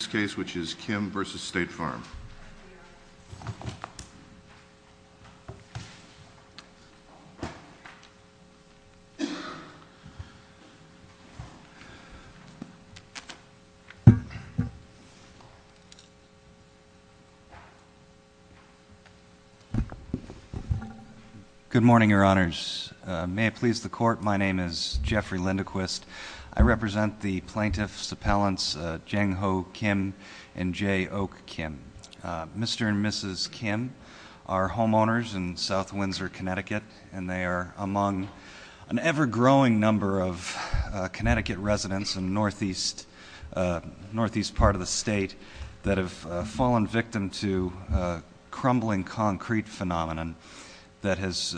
this case which is Kim v. State Farm. Good morning, your honors. May it please the court, my name is Jeffrey Lindquist. I represent the plaintiff's appellants, Jang Ho Kim and Jay Oak Kim. Mr. and Mrs. Kim are homeowners in South Windsor, Connecticut, and they are among an ever-growing number of Connecticut residents in the northeast part of the state that have fallen victim to a crumbling concrete phenomenon that has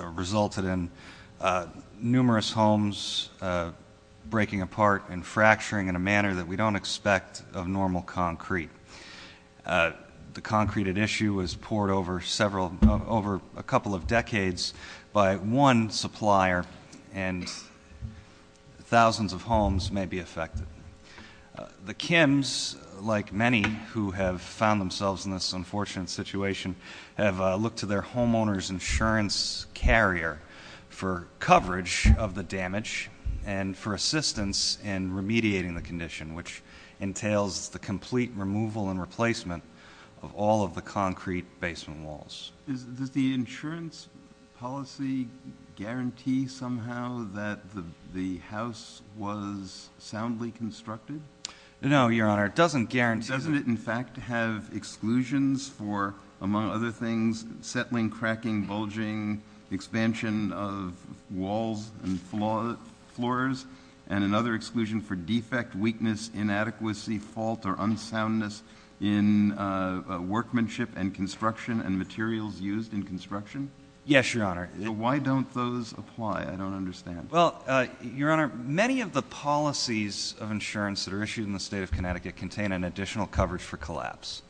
resulted in nearly all of their homes being numerous homes breaking apart and fracturing in a manner that we don't expect of normal concrete. The concrete at issue was poured over several, over a couple of decades by one supplier and thousands of homes may be affected. The Kims, like many who have found themselves in this unfortunate situation, have looked to their homeowner's insurance carrier for coverage of the damage and for assistance in remediating the condition, which entails the complete removal and replacement of all of the concrete basement walls. Does the insurance policy guarantee somehow that the house was soundly constructed? No, your honor, it doesn't guarantee that. Should it, in fact, have exclusions for, among other things, settling, cracking, bulging, expansion of walls and floors, and another exclusion for defect, weakness, inadequacy, fault, or unsoundness in workmanship and construction and materials used in construction? Yes, your honor. Why don't those apply? I don't understand. Your honor, many of the policies of insurance that are issued in the state of Connecticut contain an additional coverage for collapse.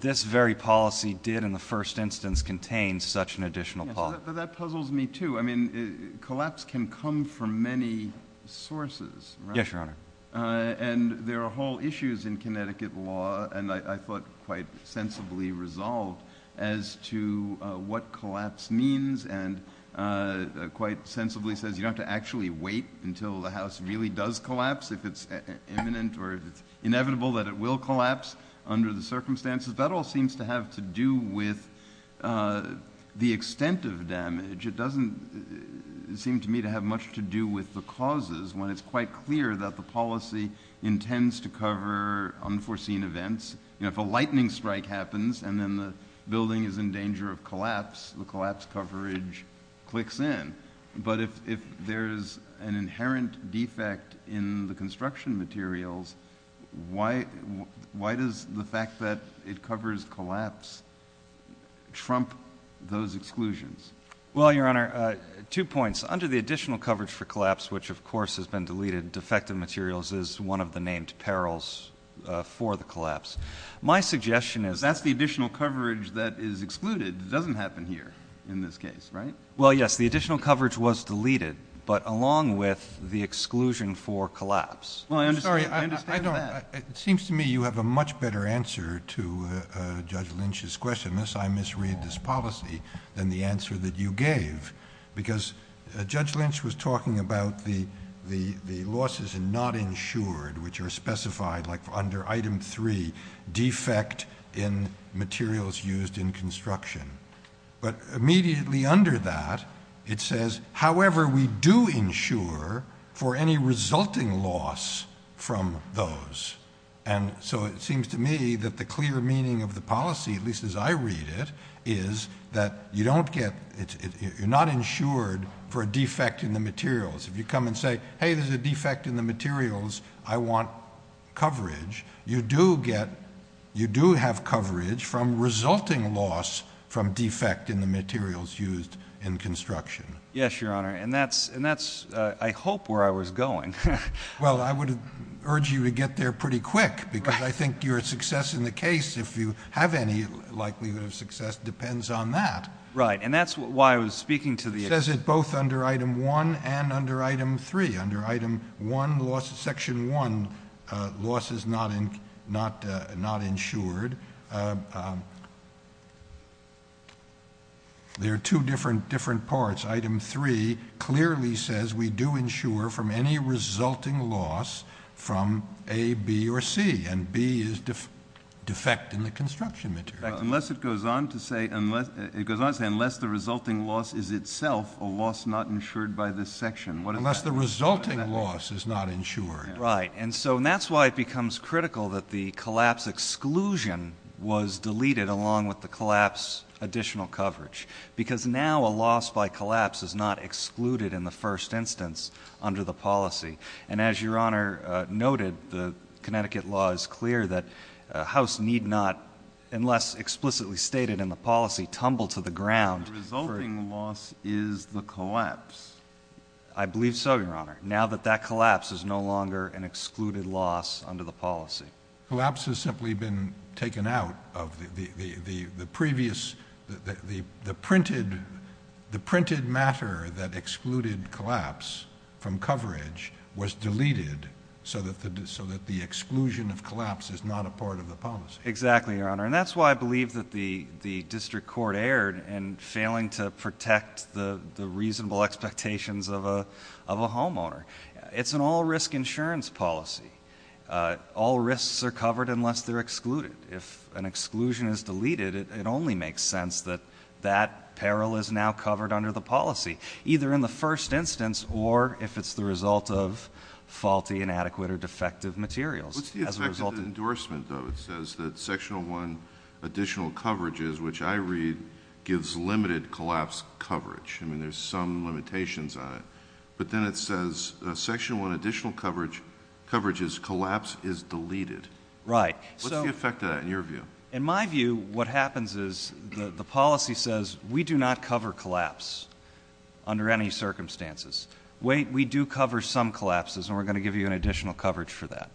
This very policy did, in the first instance, contain such an additional policy. That puzzles me, too. I mean, collapse can come from many sources, and there are whole issues in Connecticut law, and I thought quite sensibly resolved, as to what collapse means and quite sensibly says you don't have to actually wait until the house really does collapse, if it's imminent or if it's inevitable that it will collapse under the circumstances. That all seems to have to do with the extent of damage. It doesn't seem to me to have much to do with the causes when it's quite clear that the policy intends to cover unforeseen events. If a lightning strike happens and then the building is in danger of collapse, the collapse coverage clicks in, but if there's an inherent defect in the construction materials, why does the fact that it covers collapse trump those exclusions? Well, your honor, two points. Under the additional coverage for collapse, which of course has been deleted, defective materials is one of the named perils for the collapse. My suggestion is that's the additional coverage that is excluded. It doesn't happen here in this case, right? Well, yes. The additional coverage was deleted, but along with the exclusion for collapse. I'm sorry. I understand that. It seems to me you have a much better answer to Judge Lynch's question, unless I misread this policy, than the answer that you gave, because Judge Lynch was talking about the inherent defect in materials used in construction. But immediately under that, it says, however, we do insure for any resulting loss from those. And so it seems to me that the clear meaning of the policy, at least as I read it, is that you don't get, you're not insured for a defect in the materials. If you come and say, hey, there's a defect in the materials, I want coverage, you do get, you do have coverage from resulting loss from defect in the materials used in construction. Yes, Your Honor. And that's, I hope, where I was going. Well, I would urge you to get there pretty quick, because I think your success in the case, if you have any likelihood of success, depends on that. Right. And that's why I was speaking to the It says it both under Item 1 and under Item 3. Under Item 1, Section 1, loss is not insured. There are two different parts. Item 3 clearly says we do insure from any resulting loss from A, B, or C. And B is defect in the construction materials. In fact, unless it goes on to say, unless the resulting loss is itself a loss not insured by this section. Unless the resulting loss is not insured. Right. And so that's why it becomes critical that the collapse exclusion was deleted along with the collapse additional coverage. Because now a loss by collapse is not excluded in the first instance under the policy. And as Your Honor noted, the Connecticut law is clear that a house need not, unless explicitly stated in the policy, tumble to the ground. The resulting loss is the collapse. I believe so, Your Honor, now that that collapse is no longer an excluded loss under the policy. Collapse has simply been taken out of the previous, the printed matter that excluded collapse from coverage was deleted so that the exclusion of collapse is not a part of the policy. Exactly, Your Honor. And that's why I believe that the district court erred in failing to protect the reasonable expectations of a homeowner. It's an all-risk insurance policy. All risks are covered unless they're excluded. If an exclusion is deleted, it only makes sense that that peril is now covered under the policy, either in the first instance or if it's the result of faulty, inadequate, or defective materials. What's the effect of the endorsement, though? It says that Section 1 additional coverages, which I read, gives limited collapse coverage. I mean, there's some limitations on it. But then it says, Section 1 additional coverages, collapse is deleted. Right. What's the effect of that in your view? In my view, what happens is the policy says, we do not cover collapse under any circumstances. Wait, we do cover some collapses, and we're going to give you an additional coverage for that.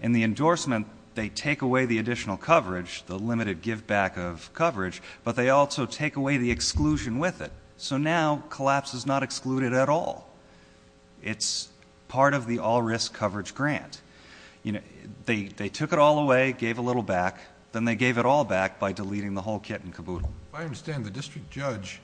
In the endorsement, they take away the additional coverage, the limited giveback of coverage, but they also take away the exclusion with it. So now collapse is not excluded at all. It's part of the all-risk coverage grant. They took it all away, gave a little back, then they gave it all back by deleting the whole kit and caboodle. I understand the district judge,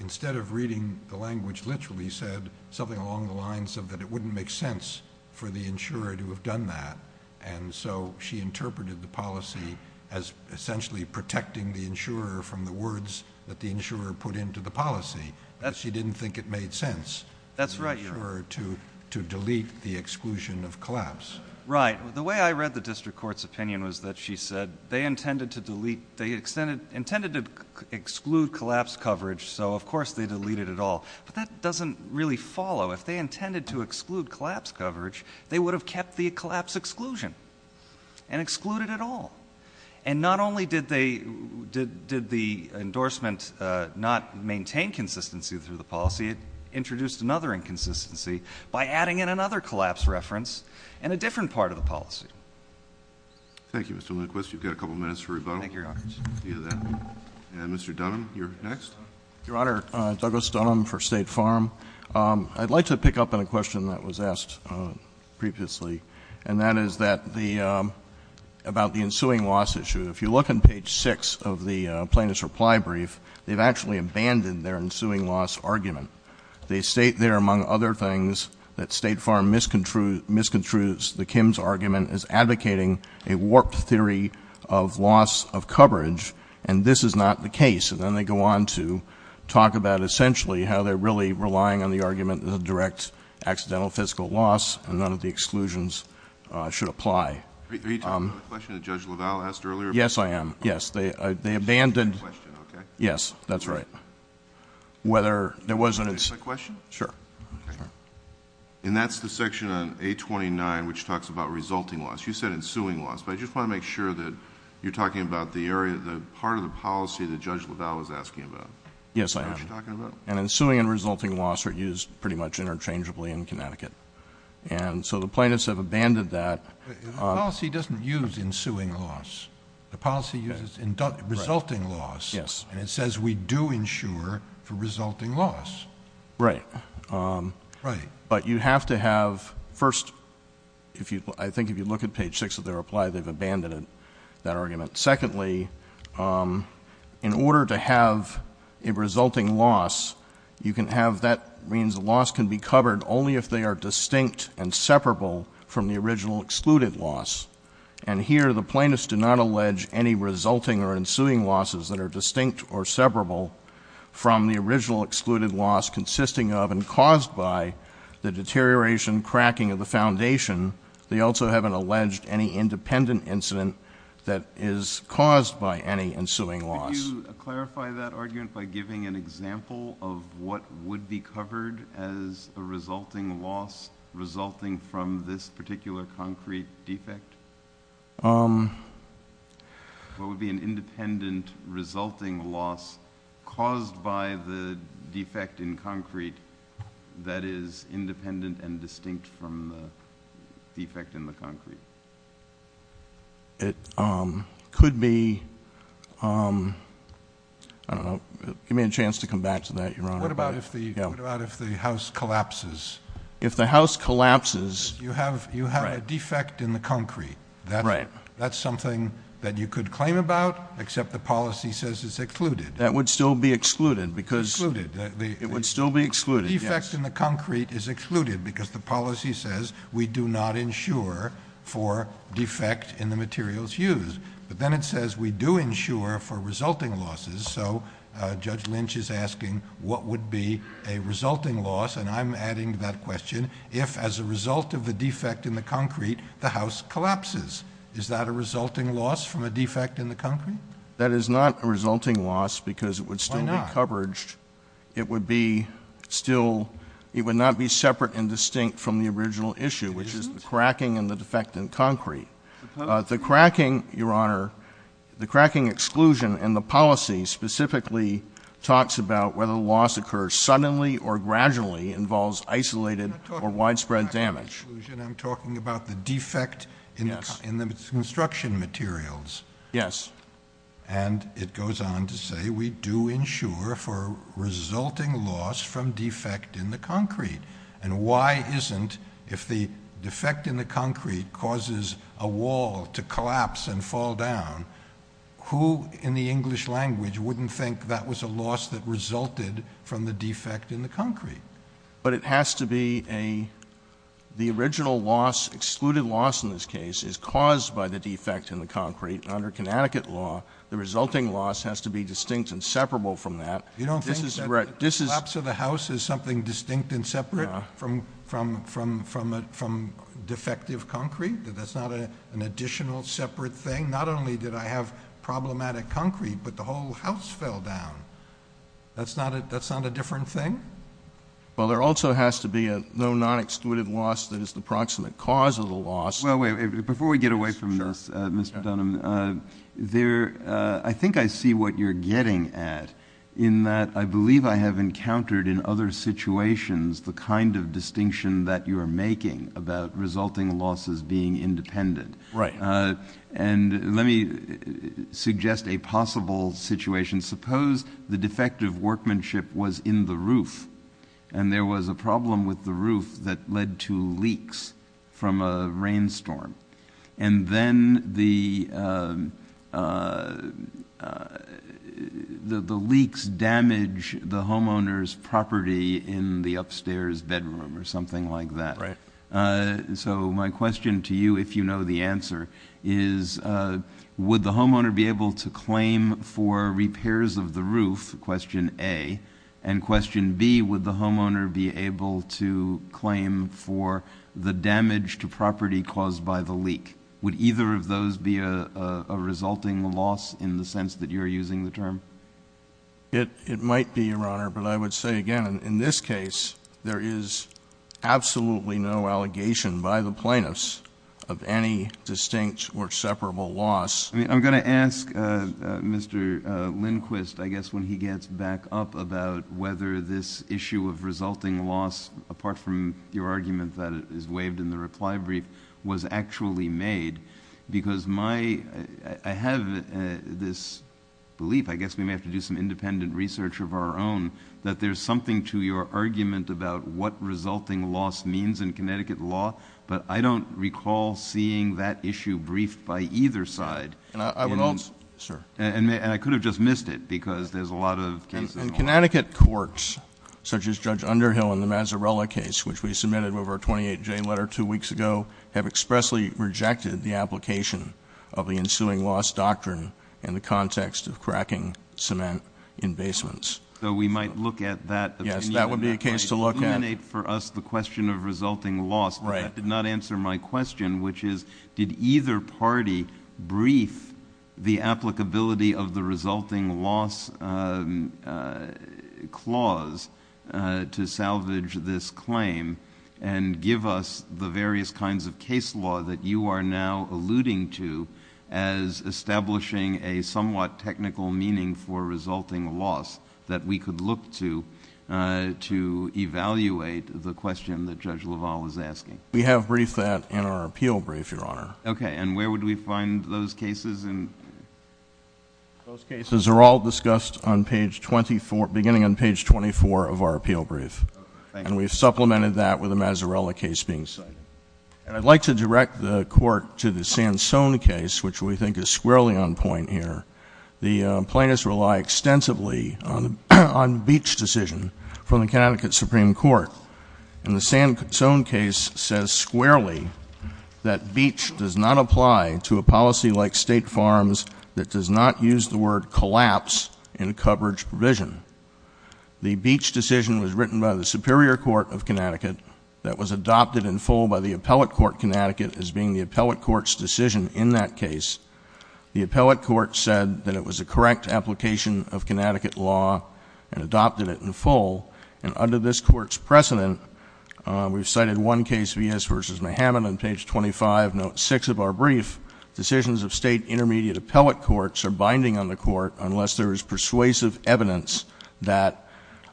instead of reading the language, literally said something along the lines of that it wouldn't make sense for the insurer to have done that. And so she interpreted the policy as essentially protecting the insurer from the words that the insurer put into the policy. She didn't think it made sense for the insurer to delete the exclusion of collapse. Right. The way I read the district court's opinion was that she said they intended to delete, they intended to exclude collapse coverage, so of course they deleted it all. But that doesn't really follow. If they intended to exclude collapse coverage, they would have kept the collapse exclusion and excluded it all. And not only did they, did the endorsement not maintain consistency through the policy, it introduced another inconsistency by adding in another collapse reference and a different part of the policy. Thank you, Mr. Lindquist. You've got a couple of minutes for rebuttal. Thank you, Your Honor. And Mr. Dunham, you're next. Your Honor, Douglas Dunham for State Farm. I'd like to pick up on a question that was asked previously, and that is that the, about the ensuing loss issue. If you look on page six of the plaintiff's reply brief, they've actually abandoned their ensuing loss argument. They state there, among other things, that State Farm misconstrues the Kim's argument as advocating a warped theory of loss of coverage, and this is not the case. And then they go on to talk about, essentially, how they're really relying on the argument as a direct accidental fiscal loss, and none of the exclusions should apply. Are you talking about the question that Judge LaValle asked earlier? Yes, I am. Yes. They, they abandoned The question, okay. Yes, that's right. Whether there wasn't Can I ask a question? Sure. Okay. And that's the section on 829, which talks about resulting loss. You said ensuing loss, but I just want to make sure that you're talking about the area, the part of the policy that Judge LaValle was asking about. Yes, I am. Is that what you're talking about? And ensuing and resulting loss are used pretty much interchangeably in Connecticut. And so the plaintiffs have abandoned that. The policy doesn't use ensuing loss. The policy uses resulting loss. Yes. And it says we do ensure for resulting loss. Right. Right. But you have to have, first, if you, I think if you look at page six of the reply, they've abandoned that argument. Secondly, in order to have a resulting loss, you can have, that be covered only if they are distinct and separable from the original excluded loss. And here the plaintiffs do not allege any resulting or ensuing losses that are distinct or separable from the original excluded loss consisting of and caused by the deterioration, cracking of the foundation. They also haven't alleged any independent incident that is caused by any ensuing loss. Could you clarify that argument by giving an example of what would be covered as a resulting loss resulting from this particular concrete defect? What would be an independent resulting loss caused by the defect in concrete that is independent and distinct from the defect in the concrete? It could be, I don't know, give me a chance to come back to that, Your Honor. What about if the house collapses? If the house collapses. You have a defect in the concrete. That's something that you could claim about, except the policy says it's excluded. That would still be excluded because. Excluded. It would still be excluded. The defect in the concrete is excluded because the policy says we do not insure for defect in the materials used. But then it says we do insure for resulting losses. So Judge Lynch is asking what would be a resulting loss, and I'm adding to that question, if as a result of the defect in the concrete, the house collapses. Is that a resulting loss from a defect in the concrete? That is not a resulting loss because it would still be covered. Why not? It would be still, it would not be separate and distinct from the original issue, which is the cracking and the defect in concrete. The cracking, Your Honor, the cracking exclusion and the policy specifically talks about whether the loss occurs suddenly or gradually, involves isolated or widespread damage. I'm not talking about the cracking exclusion. I'm talking about the defect in the construction materials. Yes. And it goes on to say we do insure for resulting loss from defect in the concrete. And why isn't, if the defect in the concrete causes a wall to collapse and fall down, who in the English language wouldn't think that was a loss that resulted from the defect in the concrete? But it has to be a, the original loss, excluded loss in this case, is caused by the defect in the concrete. Under Connecticut law, the resulting loss has to be distinct and separable from that. You don't think that collapse of the house is something distinct and separate from defective concrete? That that's not an additional separate thing? Not only did I have problematic concrete, but the whole house fell down. That's not a different thing? Well, there also has to be a no non-excluded loss that is the proximate cause of the loss. Well, wait, before we get away from this, Mr. Dunham, there, I think I see what you're getting at in that I believe I have encountered in other situations the kind of distinction that you're making about resulting losses being independent. Right. And let me suggest a possible situation. Suppose the defective workmanship was in the roof and there was a problem with the roof that led to leaks from a rainstorm. And then the leaks damage the homeowner's property in the upstairs bedroom or something like that. Right. So my question to you, if you know the answer, is would the homeowner be able to claim for the damage to property caused by the leak? Would either of those be a resulting loss in the sense that you're using the term? It might be, Your Honor. But I would say again, in this case, there is absolutely no allegation by the plaintiffs of any distinct or separable loss. I'm going to ask Mr. Lindquist, I guess when he gets back up, about whether this issue of resulting loss, apart from your argument that is waived in the reply brief, was actually made. Because I have this belief, I guess we may have to do some independent research of our own, that there's something to your argument about what resulting loss means in either side. And I would also, sir. And I could have just missed it, because there's a lot of cases. And Connecticut courts, such as Judge Underhill in the Mazzarella case, which we submitted with our 28J letter two weeks ago, have expressly rejected the application of the ensuing loss doctrine in the context of cracking cement in basements. So we might look at that opinion. Yes, that would be a case to look at. That might illuminate for us the question of resulting loss. Right. That did not answer my question, which is, did either party brief the applicability of the resulting loss clause to salvage this claim and give us the various kinds of case law that you are now alluding to as establishing a somewhat technical meaning for resulting loss that we could look to, to evaluate the question that Judge LaValle is asking. We have briefed that in our appeal brief, Your Honor. Okay. And where would we find those cases? Those cases are all discussed on page 24, beginning on page 24 of our appeal brief. And we've supplemented that with the Mazzarella case being cited. And I'd like to direct the court to the Sansone case, which we think is squarely on point here. The plaintiffs rely extensively on the Beach decision from the Connecticut Supreme Court. And the Sansone case says squarely that Beach does not apply to a policy like State Farms that does not use the word collapse in a coverage provision. The Beach decision was written by the Superior Court of Connecticut that was adopted in full by the Appellate Court of Connecticut as being the Appellate Court's decision in that case. The Appellate Court said that it was a correct application of Connecticut law and adopted it in full. And under this court's precedent, we've cited one case, Villas v. Mahamot, on page 25, note 6 of our brief, decisions of State Intermediate Appellate Courts are binding on the court unless there is persuasive evidence that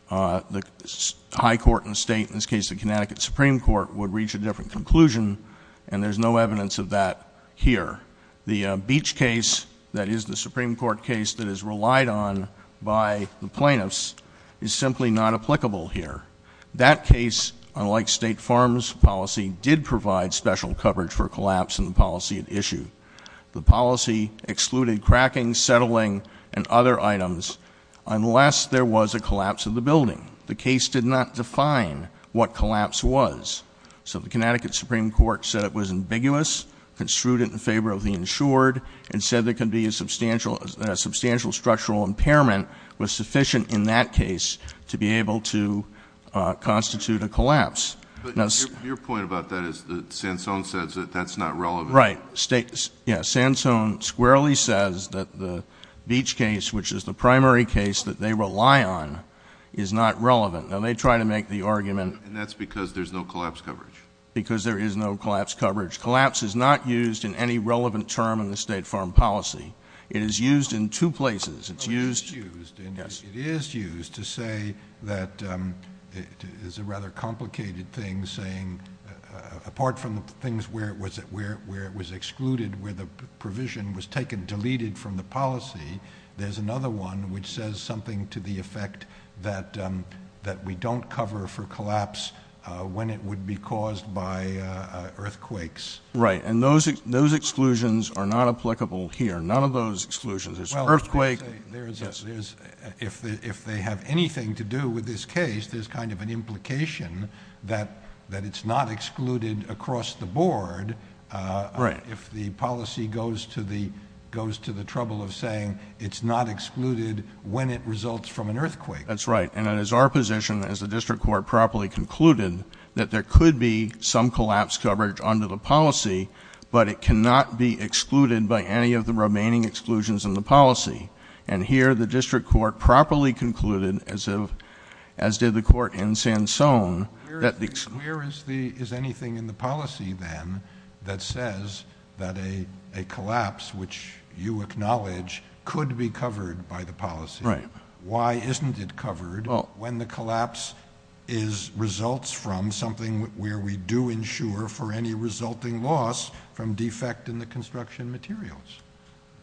the High Court and State, in this case the Connecticut Supreme Court, would reach a different conclusion. And there's no evidence of that here. The Beach case, that is the Supreme Court case that is relied on by the plaintiffs, is simply not applicable here. That case, unlike State Farms policy, did provide special coverage for collapse in the policy at issue. The policy excluded cracking, settling, and other items unless there was a collapse of the building. The case did not define what collapse was. So the Connecticut Supreme Court said it was ambiguous, construed it in favor of the insured, and said there could be a substantial structural impairment was sufficient in that case to be able to constitute a collapse. But your point about that is that Sansone says that that's not relevant. Right. Yeah, Sansone squarely says that the Beach case, which is the primary case that they rely on, is not relevant. Now they try to make the argument- And that's because there's no collapse coverage. Because there is no collapse coverage. Collapse is not used in any relevant term in the State Farm policy. It is used in two places. It is used to say that it is a rather complicated thing, saying apart from the things where it was excluded, where the provision was taken, deleted from the policy, there's another one which says something to the effect that we don't cover for collapse when it would be caused by earthquakes. Right, and those exclusions are not applicable here. None of those exclusions. There's an earthquake. Well, if they have anything to do with this case, there's kind of an implication that it's not excluded across the board. Right. If the policy goes to the trouble of saying it's not excluded when it results from an earthquake. That's right. And it is our position, as the district court properly concluded, that there could be some collapse coverage under the policy, but it cannot be excluded by any of the remaining exclusions in the policy. And here the district court properly concluded, as did the court in Sansone- Where is anything in the policy, then, that says that a collapse, which you acknowledge, could be covered by the policy? Right. Why isn't it covered when the collapse results from something where we do ensure for any resulting loss from defect in the construction materials?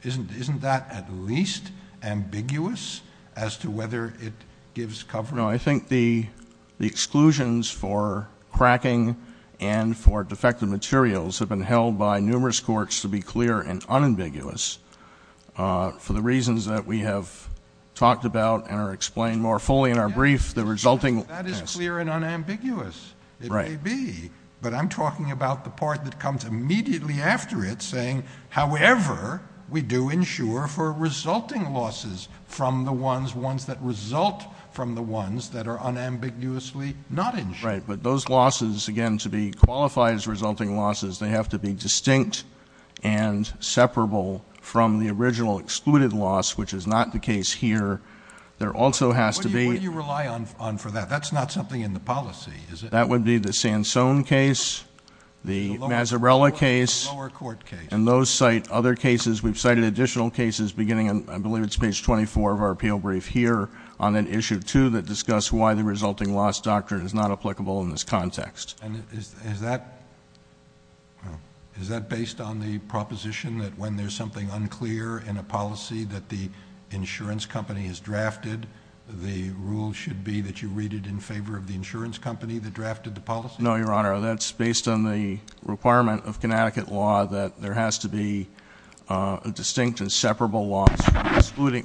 Isn't that at least ambiguous as to whether it gives coverage? I don't know. I think the exclusions for cracking and for defective materials have been held by numerous courts to be clear and unambiguous. For the reasons that we have talked about and are explained more fully in our brief, the resulting- That is clear and unambiguous. It may be, but I'm talking about the part that comes immediately after it saying, however, we do ensure for resulting losses from the ones, ones that result from the ones that are unambiguously not ensured. Right. But those losses, again, to be qualified as resulting losses, they have to be distinct and separable from the original excluded loss, which is not the case here. There also has to be- What do you rely on for that? That's not something in the policy, is it? That would be the Sansone case, the Mazzarella case- The lower court case. And those cite other cases. We've cited additional cases beginning, I believe it's page 24 of our appeal brief here, on an issue, too, that discuss why the resulting loss doctrine is not applicable in this context. And is that based on the proposition that when there's something unclear in a policy that the insurance company has drafted, the rule should be that you read it in favor of the insurance company that drafted the policy? No, Your Honor. That's based on the requirement of Connecticut law that there has to be a distinct and separable loss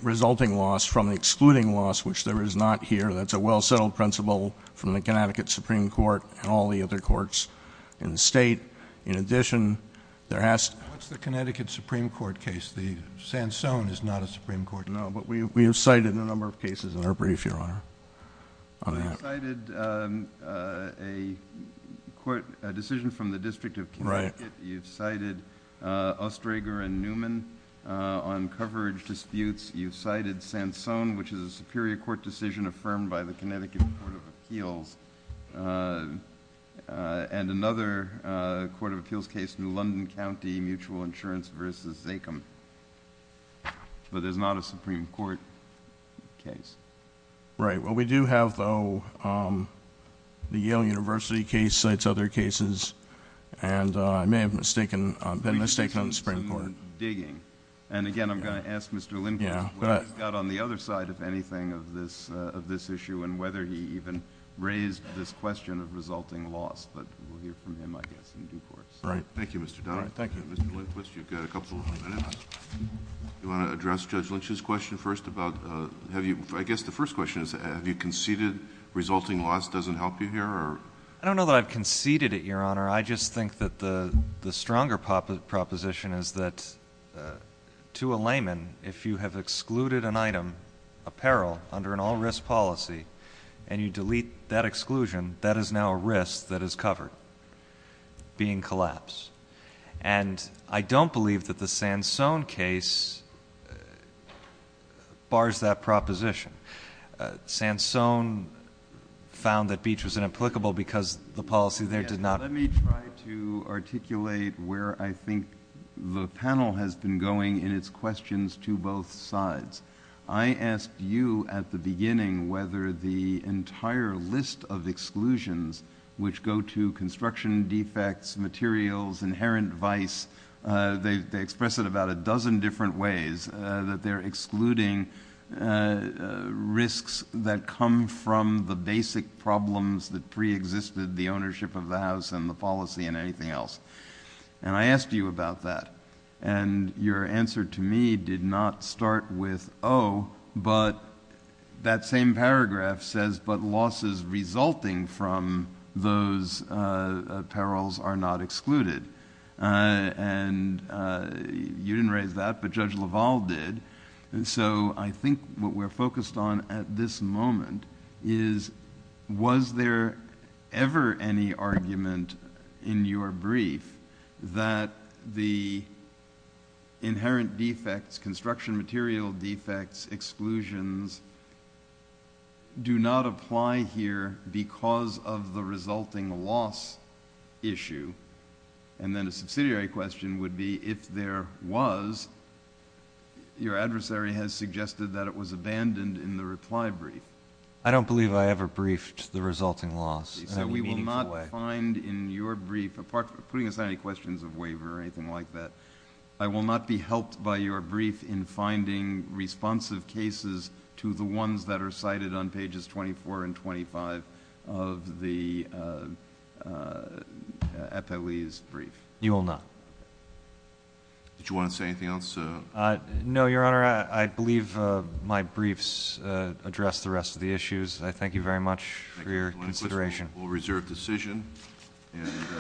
resulting loss from the excluding loss, which there is not here. That's a well-settled principle from the Connecticut Supreme Court and all the other courts in the State. In addition, there has- What's the Connecticut Supreme Court case? The Sansone is not a Supreme Court case. No, but we have cited a number of cases in our brief, Your Honor. You've cited a decision from the District of Connecticut. Right. You've cited Oestreger and Newman on coverage disputes. You've cited Sansone, which is a Superior Court decision affirmed by the Connecticut Court of Appeals, and another Court of Appeals case, New London County Mutual Insurance v. Zakem. But there's not a Supreme Court case. Right. Well, we do have, though, the Yale University case cites other cases, and I may have been mistaken on the Supreme Court. And again, I'm going to ask Mr. Lindquist what he's got on the other side, if anything, of this issue and whether he even raised this question of resulting loss. But we'll hear from him, I guess, in due course. Right. Thank you, Mr. Dunn. Thank you. Mr. Lindquist, you've got a couple of minutes. You want to address Judge Lynch's question first about have you ‑‑ I guess the first question is have you conceded resulting loss doesn't help you here? I don't know that I've conceded it, Your Honor. I just think that the stronger proposition is that to a layman, if you have excluded an item, apparel, under an all‑risk policy, and you delete that exclusion, that is now a risk that is covered, being collapsed. And I don't believe that the Sansone case bars that proposition. Sansone found that Beach was inapplicable because the policy there did not ‑‑ Let me try to articulate where I think the panel has been going in its questions to both sides. I asked you at the beginning whether the entire list of exclusions, which go to construction defects, materials, inherent vice, they express it about a dozen different ways, that they're excluding risks that come from the basic problems that preexisted the ownership of the house and the policy and anything else. And I asked you about that. And your answer to me did not start with, oh, but that same paragraph says, but losses resulting from those apparels are not excluded. And you didn't raise that, but Judge LaValle did. So I think what we're focused on at this moment is, was there ever any argument in your brief that the inherent defects, construction material defects, exclusions, do not apply here because of the resulting loss issue? And then a subsidiary question would be, if there was, your adversary has suggested that it was abandoned in the reply brief. I don't believe I ever briefed the resulting loss in any meaningful way. So we will not find in your brief, apart from putting aside any questions of waiver or anything like that, I will not be helped by your brief in finding responsive cases to the ones that are cited on pages 24 and 25 of the FOE's brief. You will not. Did you want to say anything else? No, Your Honor. I believe my briefs address the rest of the issues. I thank you very much for your consideration. Thank you.